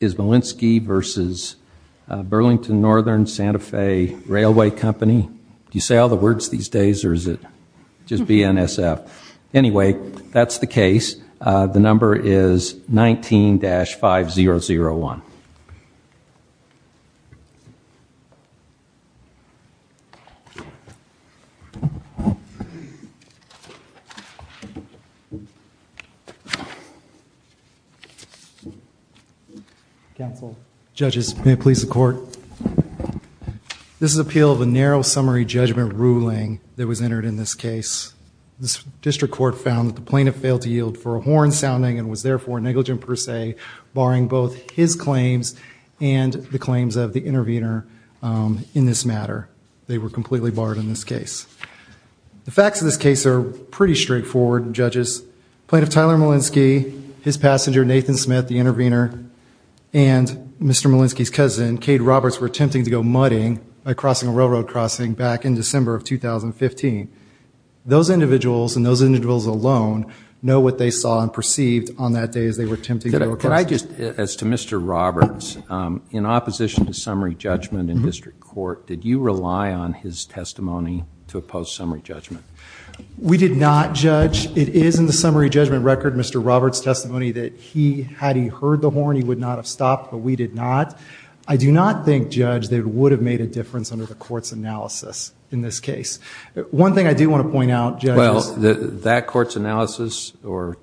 versus Burlington Northern Santa Fe Railway Company. Do you say all the words these days or is it just BNSF? Anyway, that's the case. The number is 19-5001. Counsel. Judges, may it please the court. This is an appeal of a narrow summary judgment ruling that was entered in this case. This district court found that the plaintiff failed to yield for a horn sounding and was therefore negligent per se, barring both his claims and the claims of the intervener in this matter. They were completely barred in this case. The facts of this case are pretty straightforward, judges. Plaintiff Tyler Malinski, his passenger Nathan Smith, the intervener, and Mr. Malinski's cousin Cade Roberts were attempting to go muddying by crossing a railroad crossing back in December of 2015. Those individuals and those individuals alone know what they saw and perceived on that day as they were attempting to go across. As to Mr. Roberts, in opposition to summary judgment in district court, did you rely on his testimony to oppose summary judgment? We did not judge. It is in the summary judgment record, Mr. Malinski. Had he heard the horn, he would not have stopped, but we did not. I do not think judge that it would have made a difference under the court's analysis in this case. One thing I do want to point out, judges. Well, that court's analysis or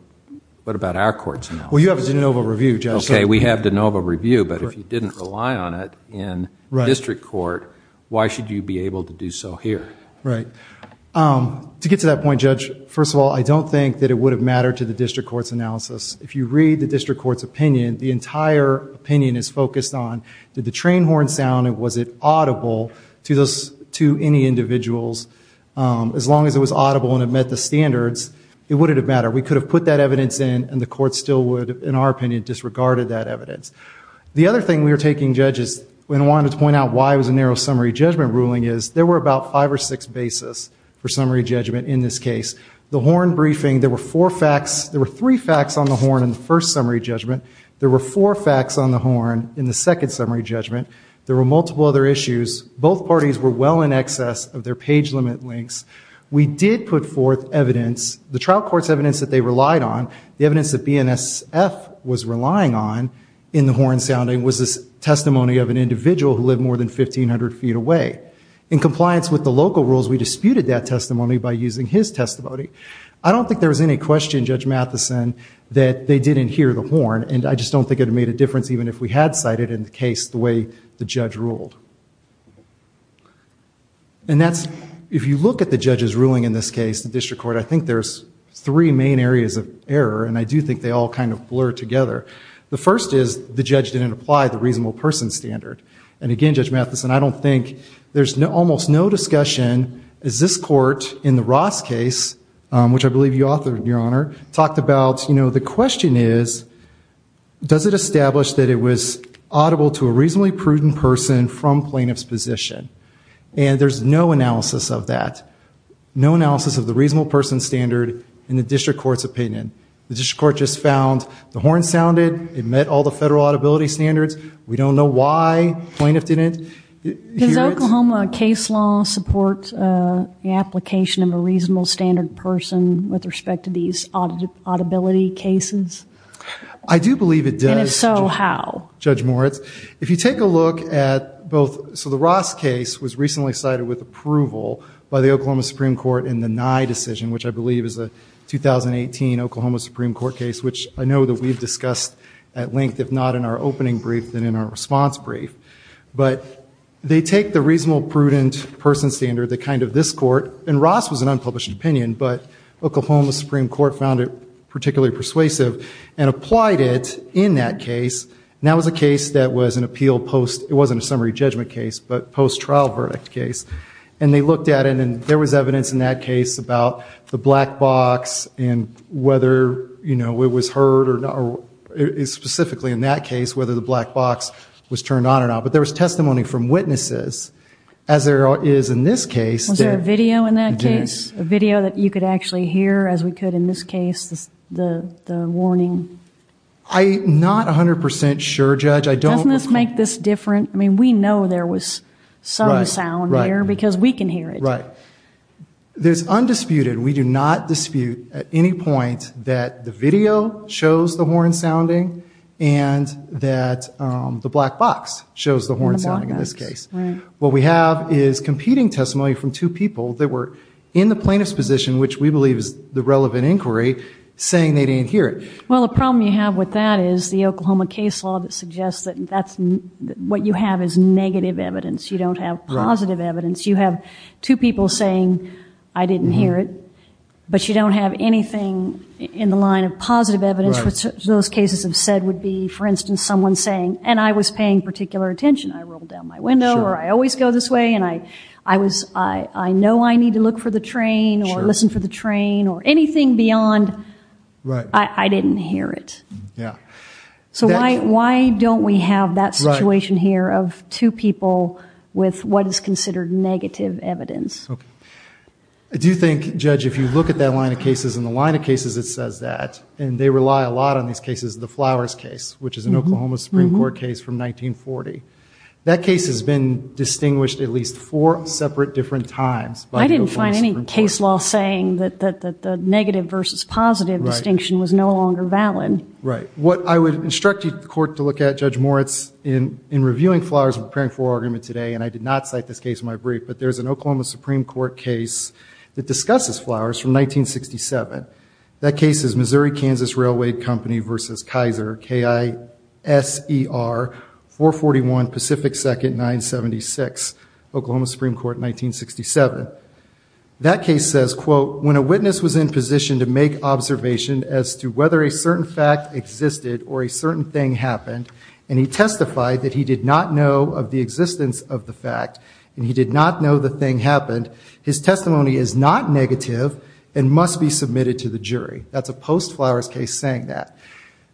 what about our court's analysis? Well, you have a de novo review, judge. Okay, we have de novo review, but if you didn't rely on it in district court, why should you be able to do so here? To get to that point, judge, first of all, I don't think that it would have mattered to the district court's analysis. If you read the district court's opinion, the entire opinion is focused on did the train horn sound and was it audible to any individuals? As long as it was audible and it met the standards, it wouldn't have mattered. We could have put that evidence in and the court still would, in our opinion, disregarded that evidence. The other thing we were taking judges, and I wanted to point out why it was a narrow summary judgment ruling, is there were about five or six bases for summary judgment in this case. The horn had three facts on the horn in the first summary judgment. There were four facts on the horn in the second summary judgment. There were multiple other issues. Both parties were well in excess of their page limit links. We did put forth evidence, the trial court's evidence that they relied on, the evidence that BNSF was relying on in the horn sounding was the testimony of an individual who lived more than 1,500 feet away. In compliance with the local rules, we disputed that testimony by using his testimony. I don't think there was any question, Judge Matheson, that they didn't hear the horn and I just don't think it would have made a difference even if we had cited in the case the way the judge ruled. If you look at the judge's ruling in this case, the district court, I think there's three main areas of error and I do think they all kind of blur together. The first is the judge didn't apply the reasonable person standard. And again, Judge Matheson, I don't think, there's almost no discussion, is this court in the Ross case, which I believe you authored, Your Honor, talked about, you know, the question is, does it establish that it was audible to a reasonably prudent person from plaintiff's position? And there's no analysis of that. No analysis of the reasonable person standard in the district court's opinion. The district court just found the horn sounded, it met all the federal audibility standards, we don't know why the plaintiff didn't hear it. Does the Oklahoma case law support the application of a reasonable standard person with respect to these audibility cases? I do believe it does. And if so, how? Judge Moritz, if you take a look at both, so the Ross case was recently cited with approval by the Oklahoma Supreme Court in the Nye decision, which I believe is a 2018 Oklahoma Supreme Court case, which I know that we've discussed at length, if not in our opening brief, then in our response brief. But they take the reasonable prudent person standard, the kind of this court, and Ross was an unpublished opinion, but Oklahoma Supreme Court found it particularly persuasive, and applied it in that case, and that was a case that was an appeal post, it wasn't a summary judgment case, but post-trial verdict case. And they looked at it and there was evidence in that case about the black box and whether it was heard, or specifically in that case, whether the black box was turned on or not. But there was testimony from witnesses as there is in this case. Was there a video in that case? A video that you could actually hear, as we could in this case, the warning? I'm not 100% sure, Judge. Doesn't this make this different? I mean, we know there was some sound here because we can hear it. Right. There's undisputed, we do not dispute at any point that the video shows the horn sounding, and that the black box shows the horn sounding in this case. What we have is competing testimony from two people that were in the plaintiff's position, which we believe is the relevant inquiry, saying they didn't hear it. Well, the problem you have with that is the Oklahoma case law that suggests that what you have is negative evidence. You don't have positive evidence. You have two people saying I didn't hear it, but you don't have anything in the line of positive evidence, which those cases have said would be, for instance, someone saying, and I was paying particular attention, I rolled down my window, or I always go this way, and I know I need to look for the train, or listen for the train, or anything beyond, I didn't hear it. So why don't we have that situation here of two people with what is considered negative evidence? I do think, Judge, if you look at that line of cases and the line of cases that says that, and they rely a lot on these cases, the Flowers case, which is an Oklahoma Supreme Court case from 1940. That case has been distinguished at least four separate different times by the Oklahoma Supreme Court. I didn't find any case law saying that the negative versus positive distinction was no longer valid. Right. What I would instruct the court to look at, Judge Moritz, in reviewing Flowers and preparing for our argument today, and I did not cite this case in my brief, but there's an Oklahoma Supreme Court case that discusses Flowers from 1967. That case is Missouri-Kansas Railway Company versus Kaiser, K-I-S-E-R 441 Pacific 2nd, 976, Oklahoma Supreme Court, 1967. That case says, quote, when a witness was in position to make observation as to whether a certain fact existed or a certain thing happened, and he testified that he did not know of the existence of the fact, and he did not know the thing happened, his testimony is not negative and must be submitted to the jury. That's a post-Flowers case saying that.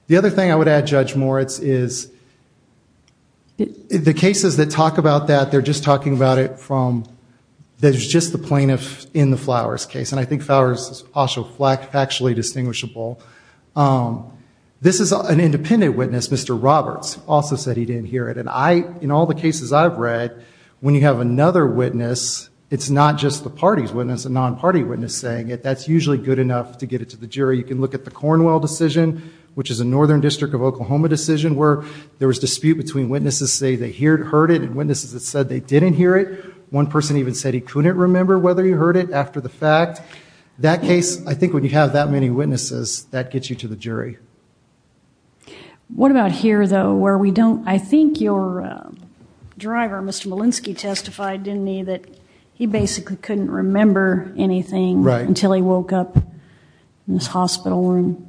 The other thing I would add, Judge Moritz, is the cases that talk about that, they're just talking about it from, there's just the plaintiff in the Flowers case, and I think Flowers is also factually distinguishable. This is an independent witness, Mr. Roberts, also said he didn't hear it. And I, in all the cases I've read, when you have another witness, it's not just the party's witness, a non-party witness saying it, that's usually good enough to get it to the jury. You can look at the Cornwell decision, which is a northern district of Oklahoma decision, where there was dispute between witnesses saying they heard it and witnesses that said they didn't hear it. One person even said he couldn't remember whether he heard it after the fact. That case, I think when you have that many witnesses, that gets you to the jury. What about here, though, where we don't, I think your driver, Mr. Molenski, testified, didn't he, that he basically couldn't remember anything until he woke up in this hospital room.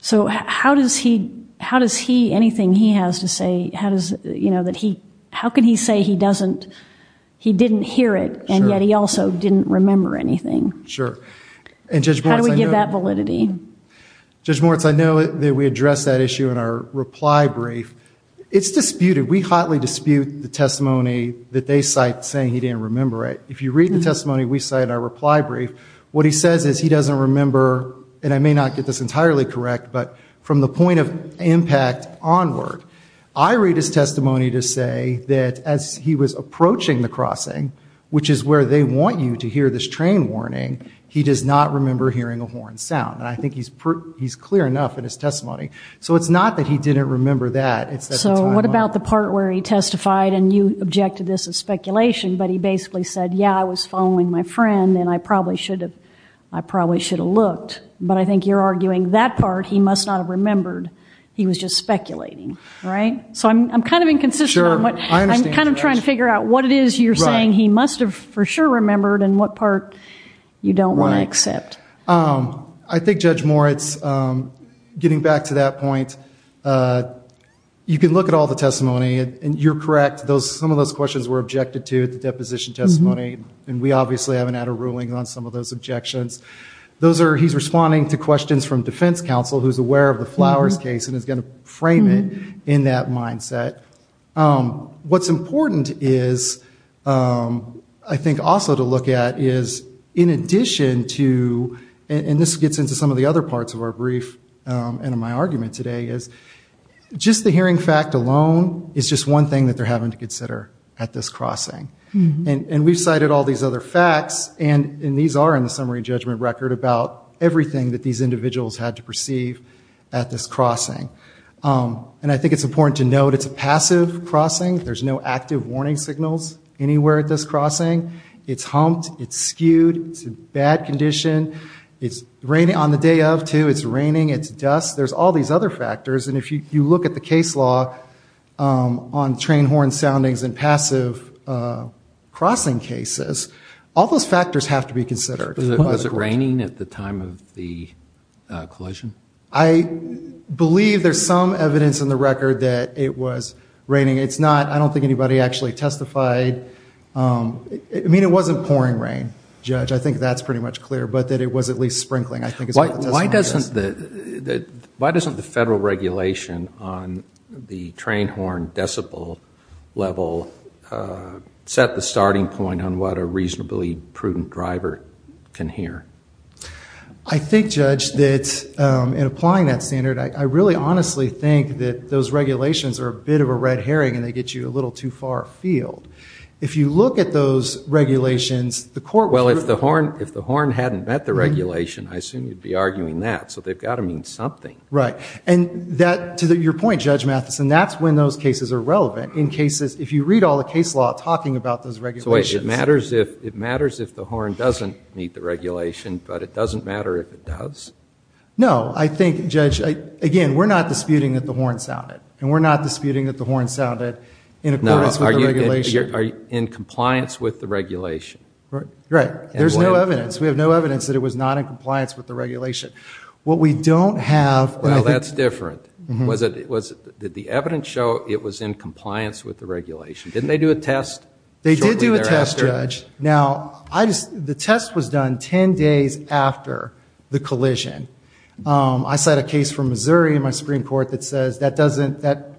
So how does he anything he has to say, how does, you know, that he, how could he say he doesn't, he didn't hear it, and yet he also didn't remember anything? How do we get that validity? Judge Moritz, I know that we addressed that issue in our reply brief. It's disputed. We hotly dispute the testimony that they cite saying he didn't remember it. If you read the testimony we cite in our reply brief, what he says is he doesn't remember, and I may not get this entirely correct, but from the point of impact onward, I read his testimony to say that as he was approaching the crossing, which is where they want you to hear this train warning, he does not remember hearing a horn sound. And I think he's clear enough in his testimony. So it's not that he didn't remember that. So what about the part where he testified, and you objected to this as speculation, but he basically said, yeah, I was following my friend, and I probably should have, I probably should have looked. But I think you're arguing that part, he must not have remembered, he was just speculating, right? So I'm kind of inconsistent on what, I'm kind of trying to figure out what it is you're saying he must have for sure remembered, and what part you don't want to accept. I think, Judge Moritz, getting back to that point, you can look at all the testimony, and you're correct, some of those questions were objected to at the deposition testimony, and we obviously haven't had a ruling on some of those objections. Those are, he's responding to questions from defense counsel who's aware of the Flowers case and is going to frame it in that mindset. What's important is, I think also to look at is, in addition to, and this gets into some of the other parts of our brief, and in my argument today, is just the hearing fact alone is just one thing that they're having to consider at this crossing. And we've cited all these other facts, and these are in the summary judgment record about everything that these individuals had to perceive at this crossing. And I think it's important to note it's a passive crossing, there's no active warning signals anywhere at this crossing. It's humped, it's skewed, it's in bad condition, it's raining on the day of too, it's raining, it's dust, there's all these other factors, and if you look at the case law on train horn soundings and passive crossing cases, all those factors have to be considered. Was it raining at the time of the collision? I believe there's some evidence in the record that it was raining. It's not, I don't think anybody actually testified, I mean it wasn't pouring rain, Judge, I think that's pretty much clear, but that it was at least sprinkling. Why doesn't the federal regulation on the train horn decibel level set the starting point on what a reasonably prudent driver can hear? I think, Judge, that in applying that standard, I really honestly think that those regulations are a bit of a red herring and they get you a little too far afield. If you look at those regulations, the court would... Well, if the horn hadn't met the regulation, I assume you'd be arguing that, so they've got to mean something. Right, and to your point, Judge Matheson, that's when those cases are relevant. In cases, if you read all the case law talking about those regulations... So it matters if the horn doesn't meet the regulation, but it doesn't matter if it does? No, I think, Judge, again, we're not disputing that the horn sounded, and we're not disputing that the horn sounded in accordance with the regulation. Are you in compliance with the regulation? Right. There's no evidence. We have no evidence that it was not in compliance with the regulation. What we don't have... Well, that's different. Did the evidence show it was in compliance with the regulation? Didn't they do a test shortly thereafter? They did do a test, Judge. Now, the test was done 10 days after the collision. I cite a case from Missouri in my case that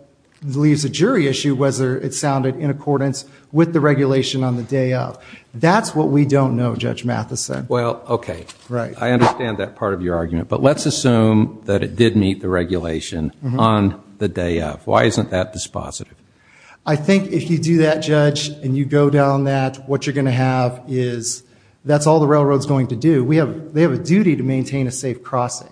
leaves a jury issue whether it sounded in accordance with the regulation on the day of. That's what we don't know, Judge Matheson. Well, okay. I understand that part of your argument, but let's assume that it did meet the regulation on the day of. Why isn't that dispositive? I think if you do that, Judge, and you go down that, what you're going to have is... That's all the railroad's going to do. They have a duty to maintain a safe crossing.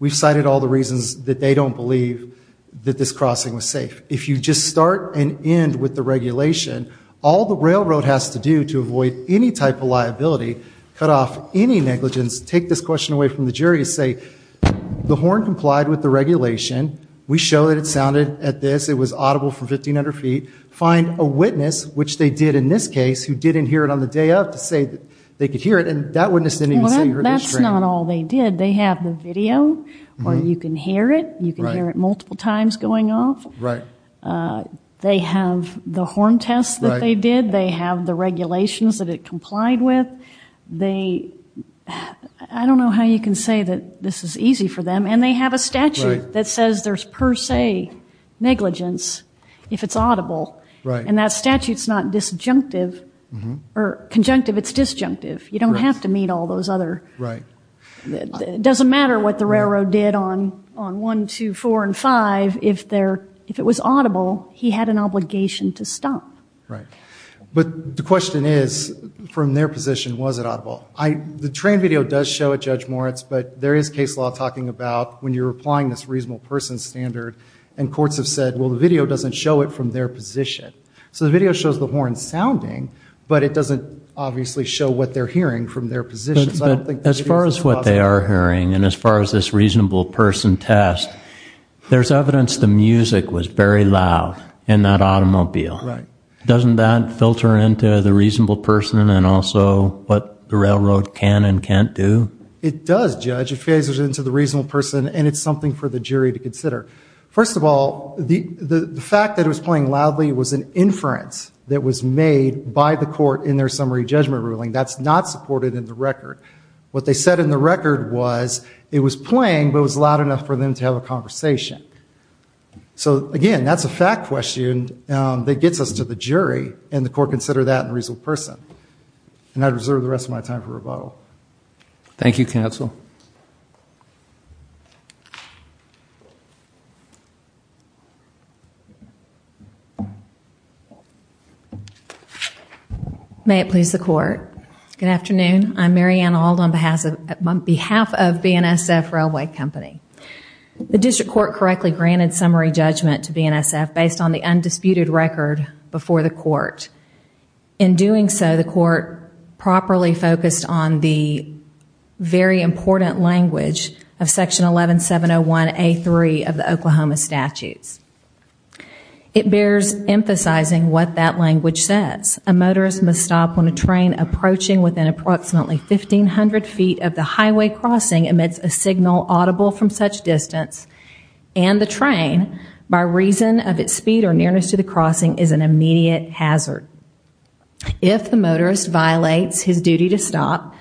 We've cited all the reasons that they don't believe that this crossing was safe. If you just start and end with the regulation, all the railroad has to do to avoid any type of liability, cut off any negligence, take this question away from the jury and say, the horn complied with the regulation. We show that it sounded at this. It was audible for 1,500 feet. Find a witness which they did in this case who didn't hear it on the day of to say that they could hear it, and that witness didn't even say he heard it. Well, that's not all they did. They have the video or you can hear it. You can hear it multiple times going off. They have the horn test that they did. They have the regulations that it complied with. I don't know how you can say that this is easy for them, and they have a statute that says there's per se negligence if it's audible, and that statute's not disjunctive or conjunctive. It's disjunctive. You don't have to meet all those other... It doesn't matter what the railroad did on 1, 2, 4, and 5 if it was audible, he had an obligation to stop. Right. But the question is, from their position, was it audible? The train video does show it, Judge Moritz, but there is case law talking about when you're applying this reasonable person standard, and courts have said, well, the video doesn't show it from their position. So the video shows the horn sounding, but it doesn't obviously show what they're hearing from their position. But as far as what they are hearing, and as far as this reasonable person test, there's evidence the music was very loud in that automobile. Doesn't that filter into the reasonable person and also what the railroad can and can't do? It does, Judge. It filters into the reasonable person, and it's something for the jury to consider. First of all, the fact that it was playing loudly was an inference that was made by the court in their summary judgment ruling. That's not supported in the record. What they said in the record was it was playing, but it was loud enough for them to have a conversation. So, again, that's a fact question that gets us to the jury and the court considered that in the reasonable person. And I'd reserve the rest of my time. May it please the court. Good afternoon. I'm Mary Ann Auld on behalf of BNSF Railway Company. The district court correctly granted summary judgment to BNSF based on the undisputed record before the court. In doing so, the court properly focused on the very important language of Section 11701A3 of the Oklahoma Statutes. It bears emphasizing what that language says. A motorist must stop when a train approaching within approximately 1,500 feet of the highway crossing emits a signal audible from such distance and the train, by reason of its speed or nearness to the crossing, is an immediate hazard. If the motorist violates his duty to stop,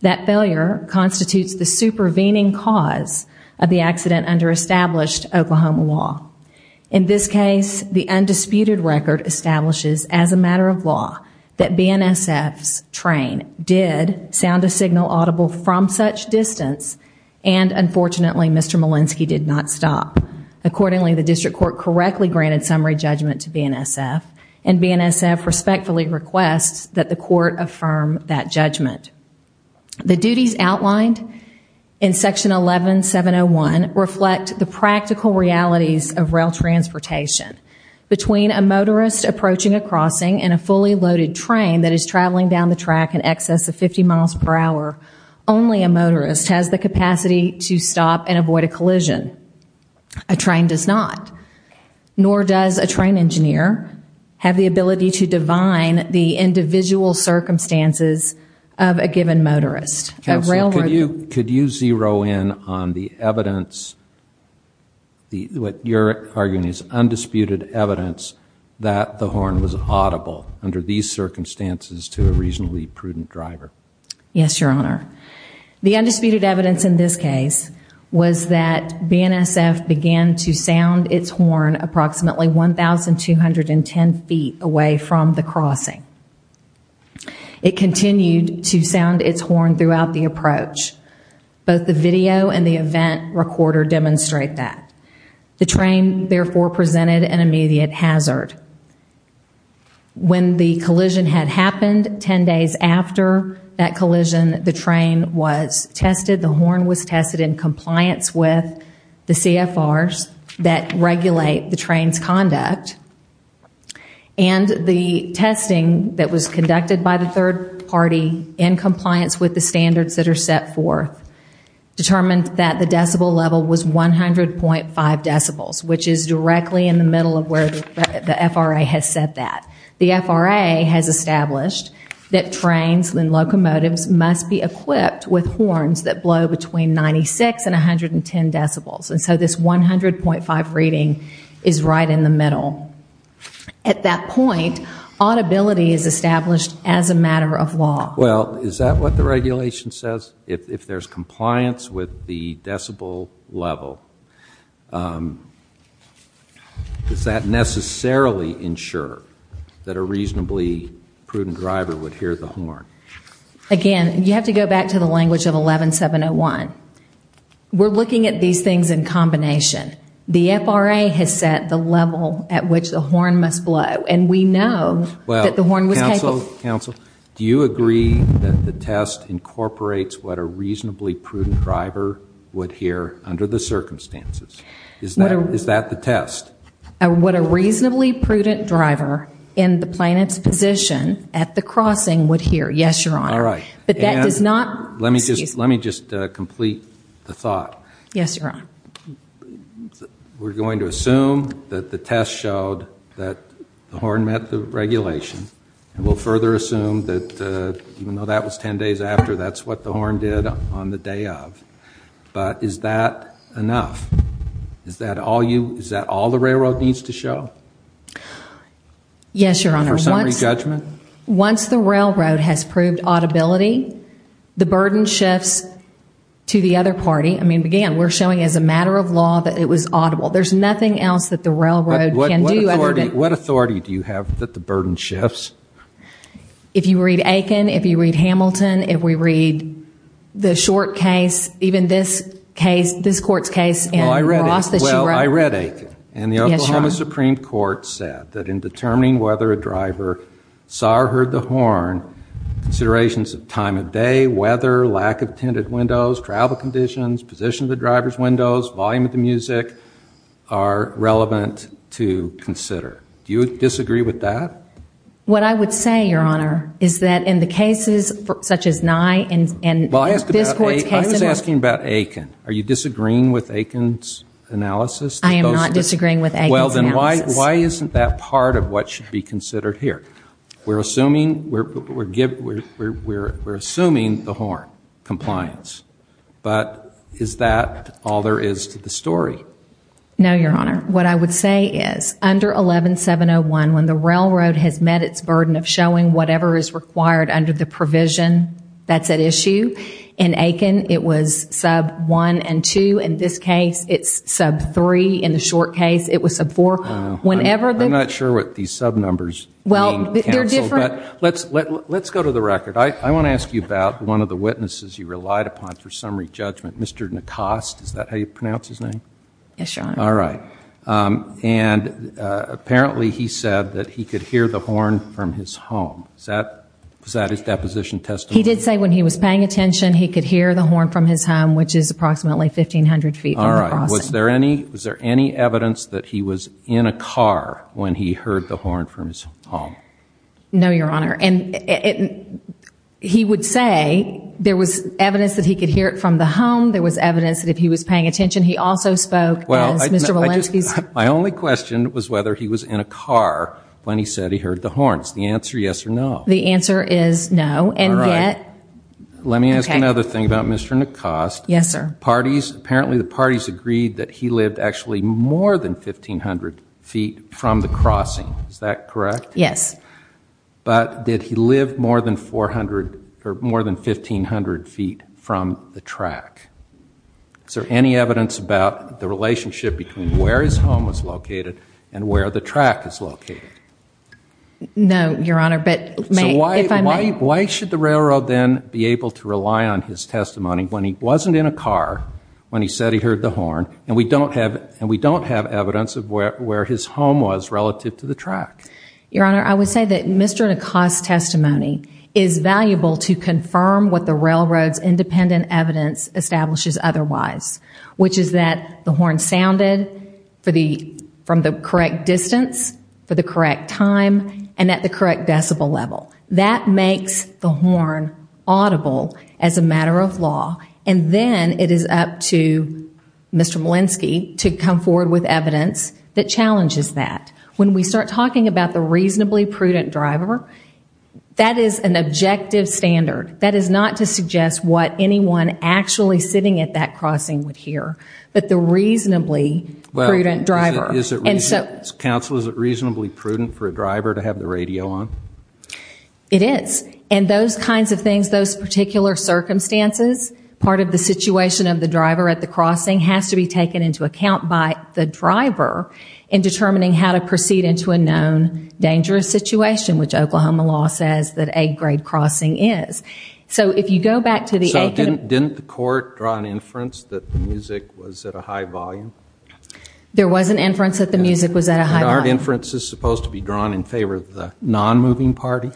that failure constitutes the supervening cause of the accident under established Oklahoma law. In this case, the undisputed record establishes as a matter of law that BNSF's train did sound a signal audible from such distance and, unfortunately, Mr. Molenski did not stop. Accordingly, the district court correctly granted summary judgment to BNSF and BNSF respectfully requests that the court affirm that judgment. The duties outlined in Section 11701 reflect the practical realities of rail transportation. Between a motorist approaching a crossing and a fully loaded train that is traveling down the track in excess of 50 miles per hour, only a motorist has the capacity to stop and avoid a collision. A train does not, nor does a train engineer have the ability to divine the individual circumstances of a given motorist. Could you zero in on the evidence, what you're arguing is undisputed evidence, that the horn was audible under these circumstances to a reasonably prudent driver? Yes, Your Honor. The undisputed evidence in this case was that BNSF began to sound its horn approximately 1,210 feet away from the crossing. It continued to sound its horn throughout the approach. Both the video and the event recorder demonstrate that. The train, therefore, presented an immediate hazard. When the collision had happened 10 days after that collision, the train was tested, the horn was tested in compliance with the CFRs that regulate the train's conduct, and the testing that was conducted by the third party in compliance with the standards that are set forth determined that the decibel level was 100.5 decibels, which is directly in the middle of where the FRA has said that. The FRA has established that trains and locomotives must be equipped with horns that blow between 96 and 110 decibels. And so this 100.5 reading is right in the middle. At that point, audibility is established as a matter of law. Well, is that what the regulation says? If there's compliance with the decibel level, does that necessarily ensure that a reasonably prudent driver would hear the horn? Again, you have to go back to the language of 11701. We're looking at these things in combination. The FRA has set the level at which the horn must blow, and we know that the horn was capable. Counsel, do you agree that the test incorporates what a reasonably prudent driver would hear under the circumstances? Is that the test? What a reasonably prudent driver in the plaintiff's position at the crossing would hear, yes, Your Honor. But that does not Let me just complete the thought. Yes, Your Honor. We're going to assume that the test showed that the horn met the regulation, and we'll further assume that even though that was 10 days after, that's what the horn did on the day of. But is that enough? Is that all the railroad needs to show? Yes, Your Honor. Once the railroad has proved audibility, the burden shifts to the other party. I mean, again, we're showing as a matter of law that it was audible. There's nothing else that the railroad can do. What authority do you have that the burden shifts? If you read Aiken, if you read Hamilton, if we read the short case, even this court's case in Ross that you wrote. Well, I read Aiken, and the Oklahoma Supreme Court said that in determining whether a driver saw or not, considerations of time of day, weather, lack of tinted windows, travel conditions, position of the driver's windows, volume of the music are relevant to consider. Do you disagree with that? What I would say, Your Honor, is that in the cases such as Nye and this court's case in Ross. I was asking about Aiken. Are you disagreeing with Aiken's analysis? I am not disagreeing with Aiken's analysis. Well, then why isn't that part of what should be considered here? We're assuming the horn compliance, but is that all there is to the story? No, Your Honor. What I would say is under 11701, when the railroad has met its burden of showing whatever is required under the provision that's at issue in Aiken, it was sub 1 and 2. In this case, it's sub 3. In the short case, it was sub 4. I'm not sure what these sub numbers mean, counsel, but let's go to the record. I want to ask you about one of the witnesses you relied upon for summary judgment, Mr. Nacoste. Is that how you pronounce his name? Yes, Your Honor. All right. Apparently, he said that he could hear the horn from his home. Was that his deposition testimony? He did say when he was paying attention, he could hear the horn from his home, which is approximately 1,500 feet from the crossing. All right. Was there any evidence that he was in a car when he heard the horn from his home? No, Your Honor. He would say there was evidence that he could hear it from the home. There was evidence that if he was paying attention, he also spoke as Mr. Walensky. My only question was whether he was in a car when he said he heard the horn. Is the answer yes or no? The answer is no. All right. Let me ask another thing about Mr. Nacoste. Yes, sir. Apparently, the parties agreed that he lived actually more than 1,500 feet from the crossing. Is that correct? Yes. But did he live more than 1,500 feet from the track? Is there any evidence about the relationship between where his home was located and where the track is located? No, Your Honor. Why should the railroad then be able to rely on his testimony when he wasn't in a car when he said he heard the horn and we don't have evidence of where his home was relative to the track? Your Honor, I would say that Mr. Nacoste's testimony is valuable to confirm what the railroad's independent evidence establishes otherwise, which is that the horn sounded from the correct distance, for the correct time, and at the correct decibel level. That makes the horn audible as a matter of law, and then it is up to Mr. Molenski to come forward with evidence that challenges that. When we start talking about the reasonably prudent driver, that is an objective standard. That is not to suggest what anyone actually sitting at that crossing would hear, but the reasonably prudent driver. Counsel, is it reasonably prudent for a driver to have the radio on? It is. And those kinds of things, those particular circumstances, part of the situation of the driver at the crossing has to be taken into account by the driver in determining how to proceed into a known dangerous situation, which Oklahoma law says that A grade crossing is. So if you go back to the A grade... So didn't the court draw an inference that the music was at a high volume? There was an inference that the music was at a high volume. Aren't inferences supposed to be drawn in favor of the non-moving party?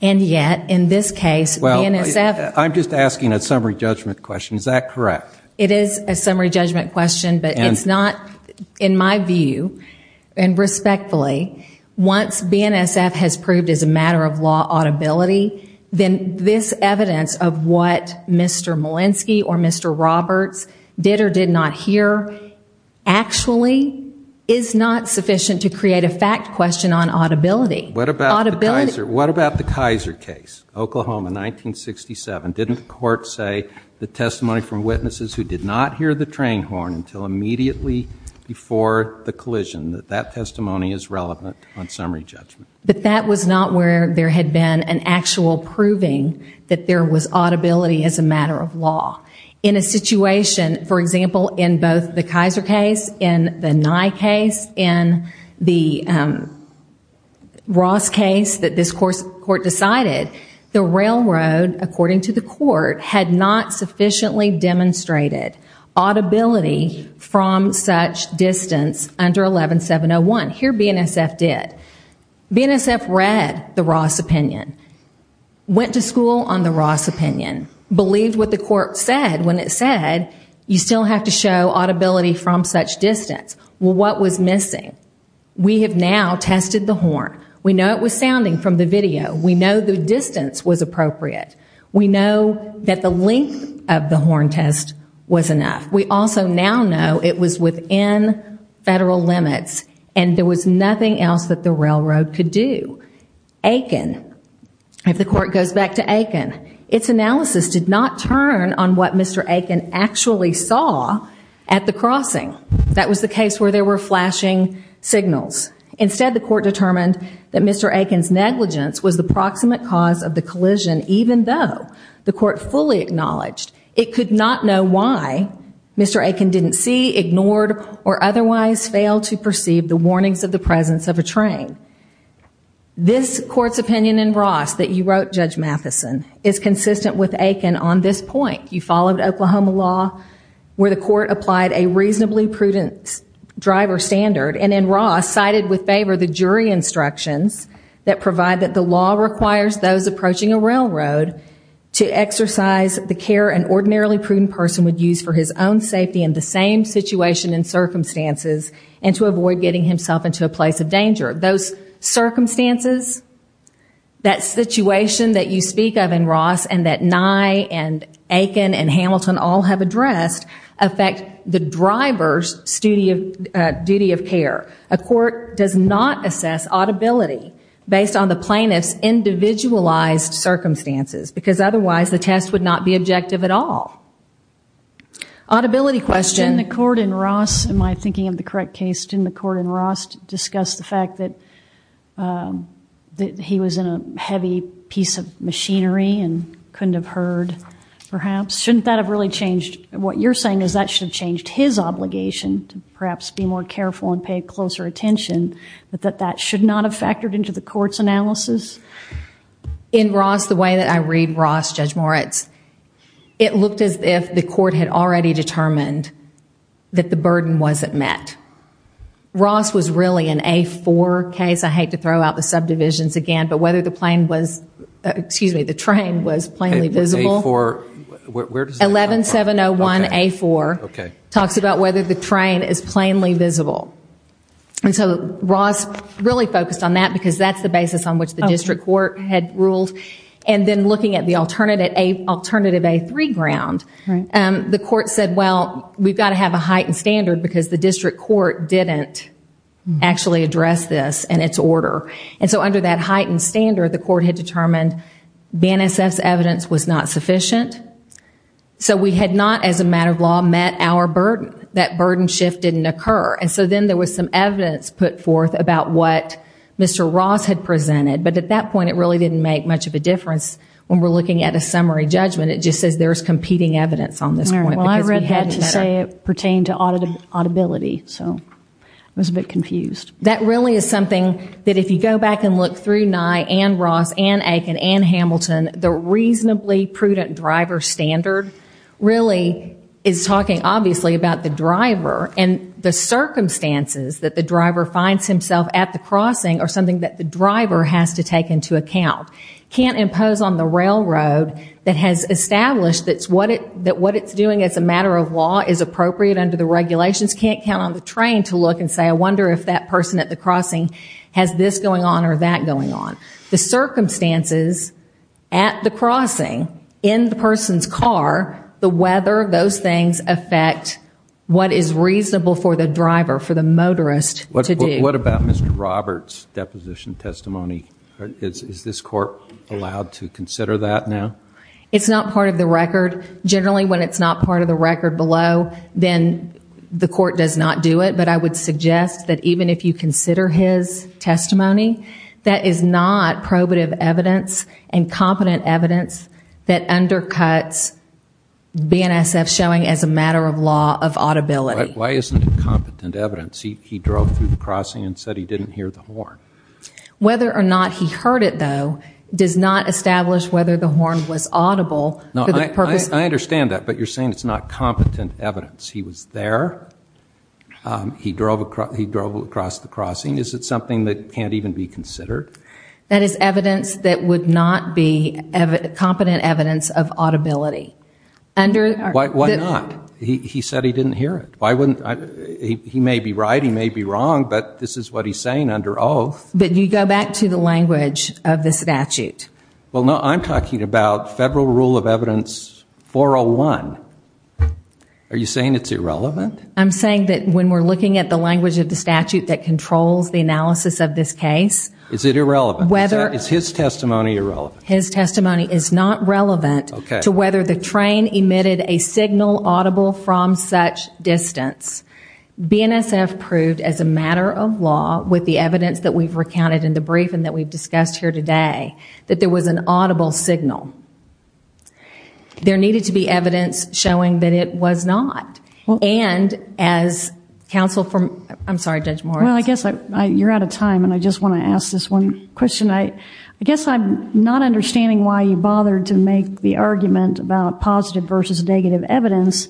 And yet, in this case, BNSF... I'm just asking a summary judgment question. Is that correct? It is a summary judgment question, but it's not, in my view, and respectfully, once BNSF has proved as a matter of law audibility, then this evidence of what Mr. Molenski or Mr. Roberts did or did not hear actually is not sufficient to create a fact question on audibility. What about the Kaiser case, Oklahoma, 1967? Didn't the court say the testimony from witnesses who did not hear the train horn until immediately before the collision, that that testimony is relevant on summary judgment? But that was not where there had been an actual proving that there was audibility as a matter of law. In a situation, for example, in both the Kaiser case, in the Nye case, in the Ross case that this court decided, the railroad, according to the court, had not sufficiently demonstrated audibility from such distance under 11701. Here, BNSF did. BNSF read the Ross opinion, went to school on the Ross opinion, believed what the court said when it said, you still have to show audibility from such distance. Well, what was missing? We have now tested the horn. We know it was sounding from the video. We know the distance was appropriate. We know that the length of the horn test was enough. We also now know it was within federal limits and there was nothing else that the railroad could do. Aiken, if the court goes back to Aiken, its analysis did not turn on what Mr. Aiken actually saw at the crossing. That was the case where there were flashing signals. Instead, the court determined that Mr. Aiken's negligence was the proximate cause of the collision, even though the court fully acknowledged it could not know why Mr. Aiken didn't see, ignored, or otherwise fail to perceive the warnings of the presence of a train. This court's opinion in Ross that you wrote, Judge Matheson, is consistent with Aiken on this point. You followed Oklahoma law where the court applied a reasonably prudent driver standard and in Ross cited with favor the jury instructions that provide that the law requires those approaching a railroad to exercise the care an ordinarily prudent person would use for his own safety in the same situation and circumstances and to avoid getting himself into a place of danger. Those circumstances, that situation that you speak of in Ross and that Nye and Prest affect the driver's duty of care. A court does not assess audibility based on the plaintiff's individualized circumstances because otherwise the test would not be objective at all. Audibility question. In the court in Ross, am I thinking of the correct case, in the court in Ross discussed the fact that he was in a heavy piece of machinery and couldn't have heard perhaps. Shouldn't that have really changed, what you're saying is that should have changed his obligation to perhaps be more careful and pay closer attention but that that should not have factored into the court's analysis? In Ross, the way that I read Ross, Judge Moritz, it looked as if the court had already determined that the burden wasn't met. Ross was really an A4 case. I hate to throw out the subdivisions again but whether the plane was, excuse me, the train was plainly visible. 11701 A4 talks about whether the train is plainly visible. And so Ross really focused on that because that's the basis on which the district court had ruled and then looking at the alternative A3 ground, the court said well, we've got to have a heightened standard because the district court didn't actually address this in its order. And so under that heightened standard the court had determined BNSF's evidence was not sufficient so we had not as a matter of law met our burden. That burden shift didn't occur. And so then there was some evidence put forth about what Mr. Ross had presented. But at that point it really didn't make much of a difference when we're looking at a summary judgment. It just says there's competing evidence on this point. Well I read that to say it pertained to audibility so I was a bit confused. That really is something that if you go back and look through Nye and Ross and Aiken and Hamilton, the reasonably prudent driver standard really is talking obviously about the driver and the circumstances that the driver finds himself at the crossing are something that the driver has to take into account. Can't impose on the railroad that has established that what it's doing as a matter of law is appropriate under the regulations. Can't count on the train to look and say I wonder if that person at the crossing has this going on or that going on. The circumstances at the crossing, in the person's car the weather, those things affect what is reasonable for the driver, for the motorist to do. What about Mr. Roberts deposition testimony? Is this court allowed to consider that now? It's not part of the record. Generally when it's not part of the record below then the court does not do it. But I would suggest that even if you consider his testimony that is not probative evidence and competent evidence that undercuts BNSF showing as a matter of law of audibility. Why isn't it competent evidence? He drove through the crossing and said he didn't hear the horn. Whether or not he heard it though does not establish whether the horn was audible I understand that but you're saying it's not competent evidence. He was there. He drove across the crossing. Is it something that can't even be considered? That is evidence that would not be competent evidence of audibility. Why not? He said he didn't hear it. He may be right, he may be wrong but this is what he's saying under oath. But you go back to the language of the statute. Well no I'm talking about federal rule of evidence 401. Are you saying it's irrelevant? I'm saying that when we're looking at the language of the statute that controls the analysis of this case Is it irrelevant? Is his testimony irrelevant? His testimony is not relevant to whether the train emitted a signal audible from such distance. BNSF proved as a matter of law with the evidence that we've recounted in the brief and that we've discussed here today that there was an audible signal. There needed to be evidence showing that it was not and as counsel from I'm sorry Judge Morris. Well I guess you're out of time and I just want to ask this one question I guess I'm not understanding why you bothered to make the argument about positive versus negative evidence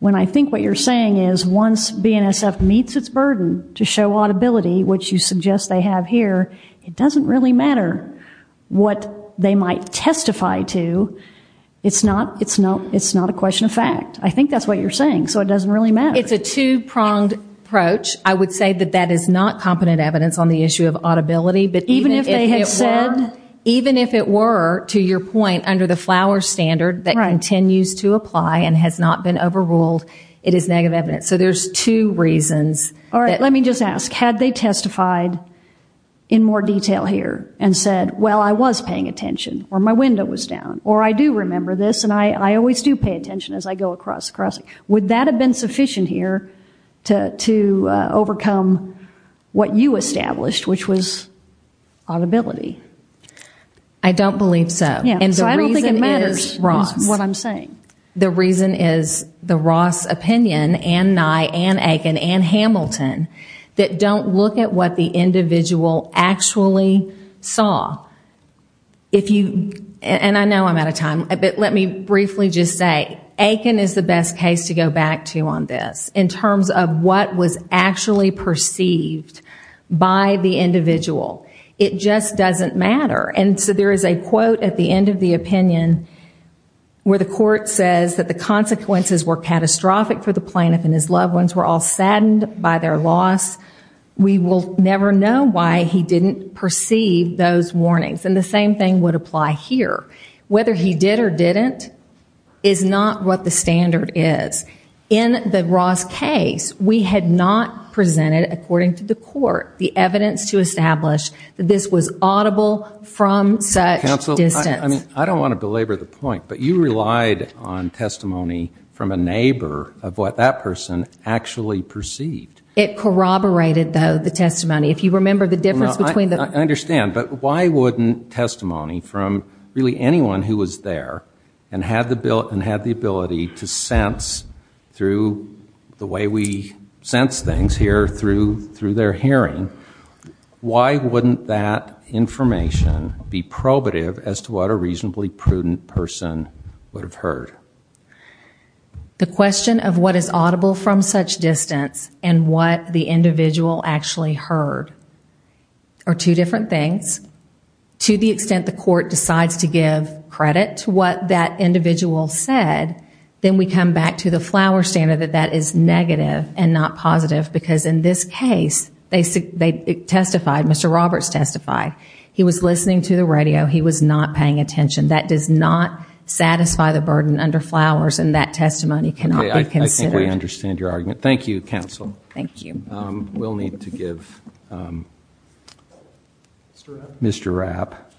when I think what you're saying is once BNSF meets its burden to show audibility which you suggest they have here it doesn't really matter what they might testify to it's not a question of fact. I think that's what you're saying so it doesn't really matter It's a two pronged approach. I would say that that is not competent evidence on the issue of audibility but even if it were to your point under the FLOWER standard that continues to apply and has not been overruled it is negative evidence. So there's two reasons. Alright let me just ask had they testified in more detail here and said well I was paying attention or my window was down or I do remember this and I always do pay attention as I go across. Would that have been sufficient here to overcome what you established which was audibility? I don't believe so. So I don't think it matters is what I'm saying. The reason is the Ross opinion and Nye and Aiken and Hamilton that don't look at what the individual actually saw. And I know I'm out of time but let me briefly just say Aiken is the best case to go back to on this in terms of what was actually perceived by the individual. It just doesn't matter and so there is a quote at the end of the opinion where the court says that the consequences were catastrophic for the plaintiff and his loss. We will never know why he didn't perceive those warnings and the same thing would apply here. Whether he did or didn't is not what the standard is. In the Ross case we had not presented according to the court the evidence to establish that this was audible from such distance. Counsel I don't want to belabor the point but you relied on testimony from a neighbor of what that person actually perceived. It corroborated the testimony. I understand but why wouldn't testimony from really anyone who was there and had the ability to sense through the way we sense things here through their hearing. Why wouldn't that information be probative as to what a reasonably prudent person would have heard? The question of what is audible from such distance and what the individual actually heard are two different things. To the extent the court decides to give credit to what that individual said then we come back to the flower standard that that is negative and not positive because in this case they testified, Mr. Roberts testified he was listening to the radio, he was not paying attention. That does not under flowers and that testimony cannot be considered. Thank you counsel. We will need to give Mr. Rapp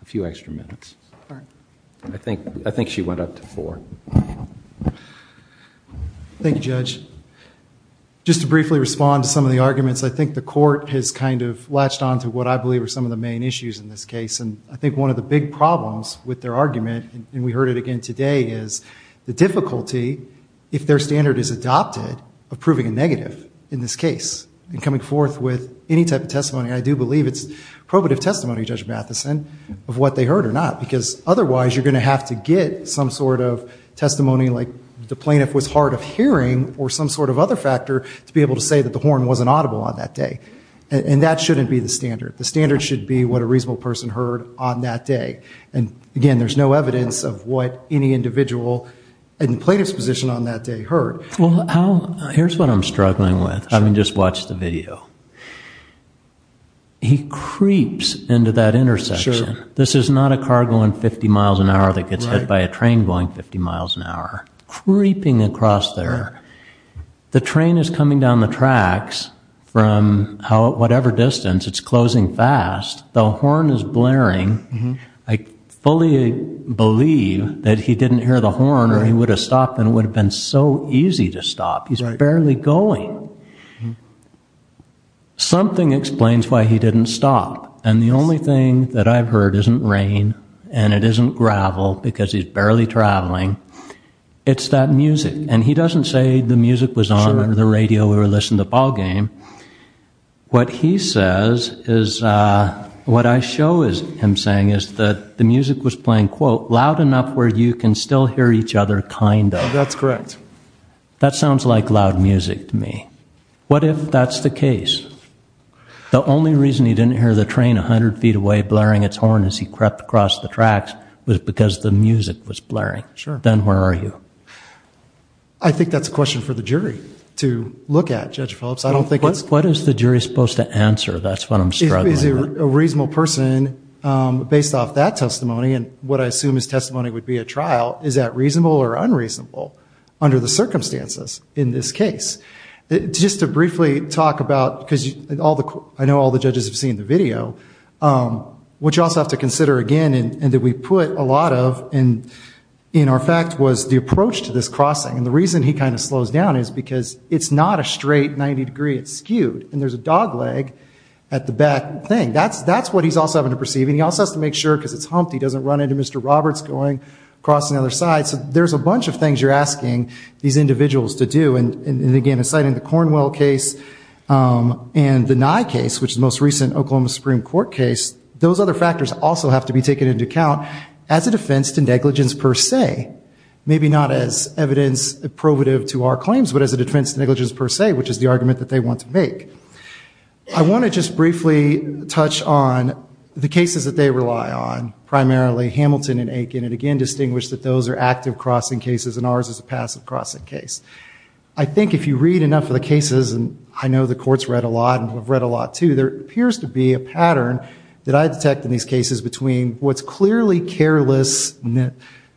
a few extra minutes. I think she went up to four. Thank you judge. Just to briefly respond to some of the arguments. I think the court has kind of latched on to what I believe are some of the main issues in this case. I think one of the big problems with their hearing today is the difficulty if their standard is adopted of proving a negative in this case and coming forth with any type of testimony and I do believe it is probative testimony Judge Matheson of what they heard or not because otherwise you are going to have to get some sort of testimony like the plaintiff was hard of hearing or some sort of other factor to be able to say that the horn wasn't audible on that day. That shouldn't be the standard. The standard should be what a reasonable person heard on that day. Again, there is no evidence of what any individual in the plaintiff's position on that day heard. Here is what I am struggling with. Just watch the video. He creeps into that intersection. This is not a car going 50 miles an hour that gets hit by a train going 50 miles an hour. Creeping across there. The train is coming down the tracks from whatever distance. It is closing fast. The horn is blaring. I fully believe that he didn't hear the horn or he would have stopped and it would have been so easy to stop. He is barely going. Something explains why he didn't stop and the only thing that I have heard isn't rain and it isn't gravel because he is barely traveling. It is that music and he doesn't say the music was on or the radio or listen to ball game. What he says is what I show him saying is that the music was playing loud enough where you can still hear each other kind of. That sounds like loud music to me. What if that is the case? The only reason he didn't hear the train 100 feet away blaring its horn as he crept across the tracks was because the music was blaring. Then where are you? I think that is a question for the jury to look at. What is the jury supposed to answer? Based off that testimony and what I assume is testimony would be a trial, is that reasonable or unreasonable under the circumstances in this case? I know all the judges have seen the video. What you also have to consider again and that we put a lot of in our fact was the approach to this crossing. The reason he kind of slows down is because it is not a straight 90 degree. It is skewed. There is a dog leg at the back. That is what he is also having to perceive. He also has to make sure because it is humped he doesn't run into Mr. Roberts going across the other side. There is a bunch of things you are asking these individuals to do. The Cornwell case and the Nye case which is the most recent Oklahoma Supreme Court case. Those other factors also have to be taken into account as a defense to negligence per se. Maybe not as evidence probative to our claims but as a defense to negligence per se which is the argument that they want to make. I want to just briefly touch on the cases that they rely on. Primarily Hamilton and Aiken and again distinguish that those are active crossing cases and ours is a passive crossing case. I think if you read enough of the cases and I know the courts read a lot and have read a lot too. There appears to be a pattern that I detect in these cases between what is clearly careless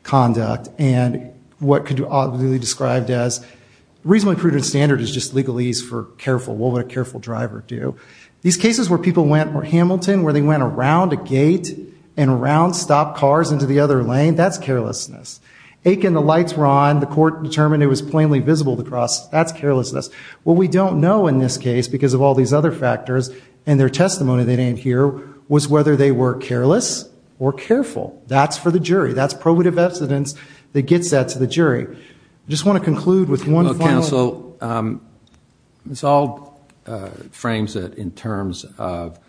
conduct and what could be described as reasonably prudent standard is just legal ease for careful. What would a careful driver do? These cases where people went around a gate and around stopped cars into the other lane, that is carelessness. Aiken the lights were on. The court determined it was plainly visible to cross. That is carelessness. What we don't know in this case because of all these other factors and their testimony they didn't hear was whether they were careless or careful. That's for the jury. That's probative evidence that gets that to the jury. I just want to conclude with one final... This all frames it in terms of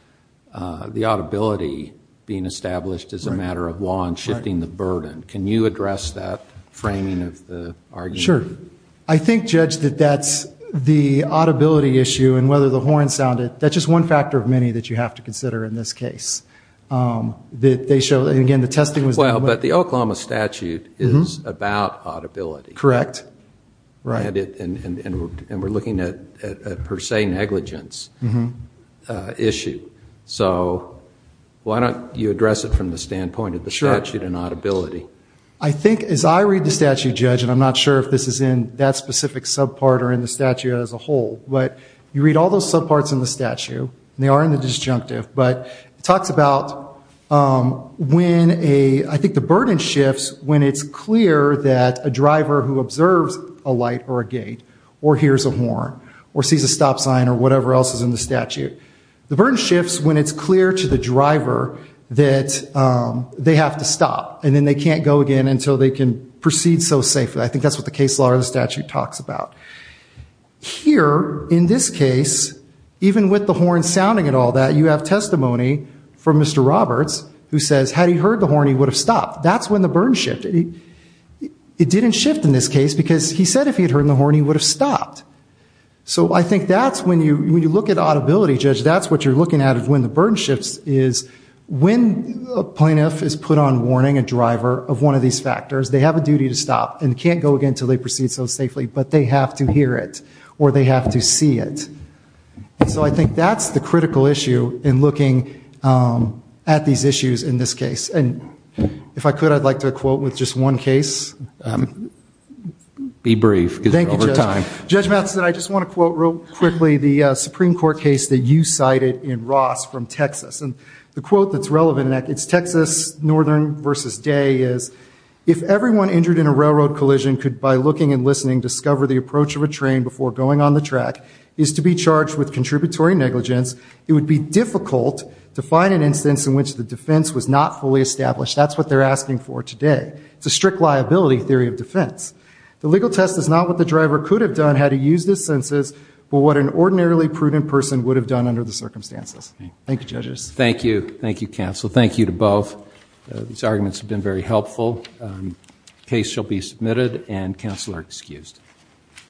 the audibility being established as a matter of law and shifting the burden. Can you address that framing of the argument? Sure. I think Judge that that's the audibility issue and whether the horn sounded. That's just one factor of many that you have to consider in this case. The Oklahoma statute is about audibility. Correct. We're looking at per se negligence issue. Why don't you address it from the standpoint of the statute and audibility. I think as I read the statute Judge and I'm not sure if this is in that specific sub part or in the statute as a whole. You read all those sub parts in the statute. They are in the disjunctive but it talks about when I think the burden shifts when it's clear that a driver who observes a light or a gate or hears a horn or sees a stop sign or whatever else is in the statute. The burden shifts when it's clear to the driver that they have to stop and then they can't go again until they can proceed so safely. I think that's what the case law or the statute talks about. Here in this case even with the horn sounding and all that you have testimony from Mr. Roberts who says had he heard the horn he would have stopped. That's when the burden shifted. It didn't shift in this case because he said if he had heard the horn he would have stopped. So I think that's when you look at audibility Judge that's what you're looking at is when the burden shifts is when a plaintiff is put on warning a driver of one of these factors they have a duty to stop and can't go again until they proceed so safely but they have to hear it or they have to see it. So I think that's the critical issue in looking at these issues in this case and if I could I'd like to quote with just one case. Be brief because we're over time. Judge Matheson I just want to quote real quickly the Supreme Court case that you cited in Ross from Texas and the quote that's relevant in that it's Texas Northern versus Day is to be charged with contributory negligence it would be difficult to find an instance in which the defense was not fully established that's what they're asking for today. It's a strict liability theory of defense. The legal test is not what the driver could have done had he used his senses but what an ordinarily prudent person would have done under the circumstances. Thank you judges. Thank you. Thank you counsel. Thank you to both. These arguments have been very helpful. Case shall be submitted and counsel are excused.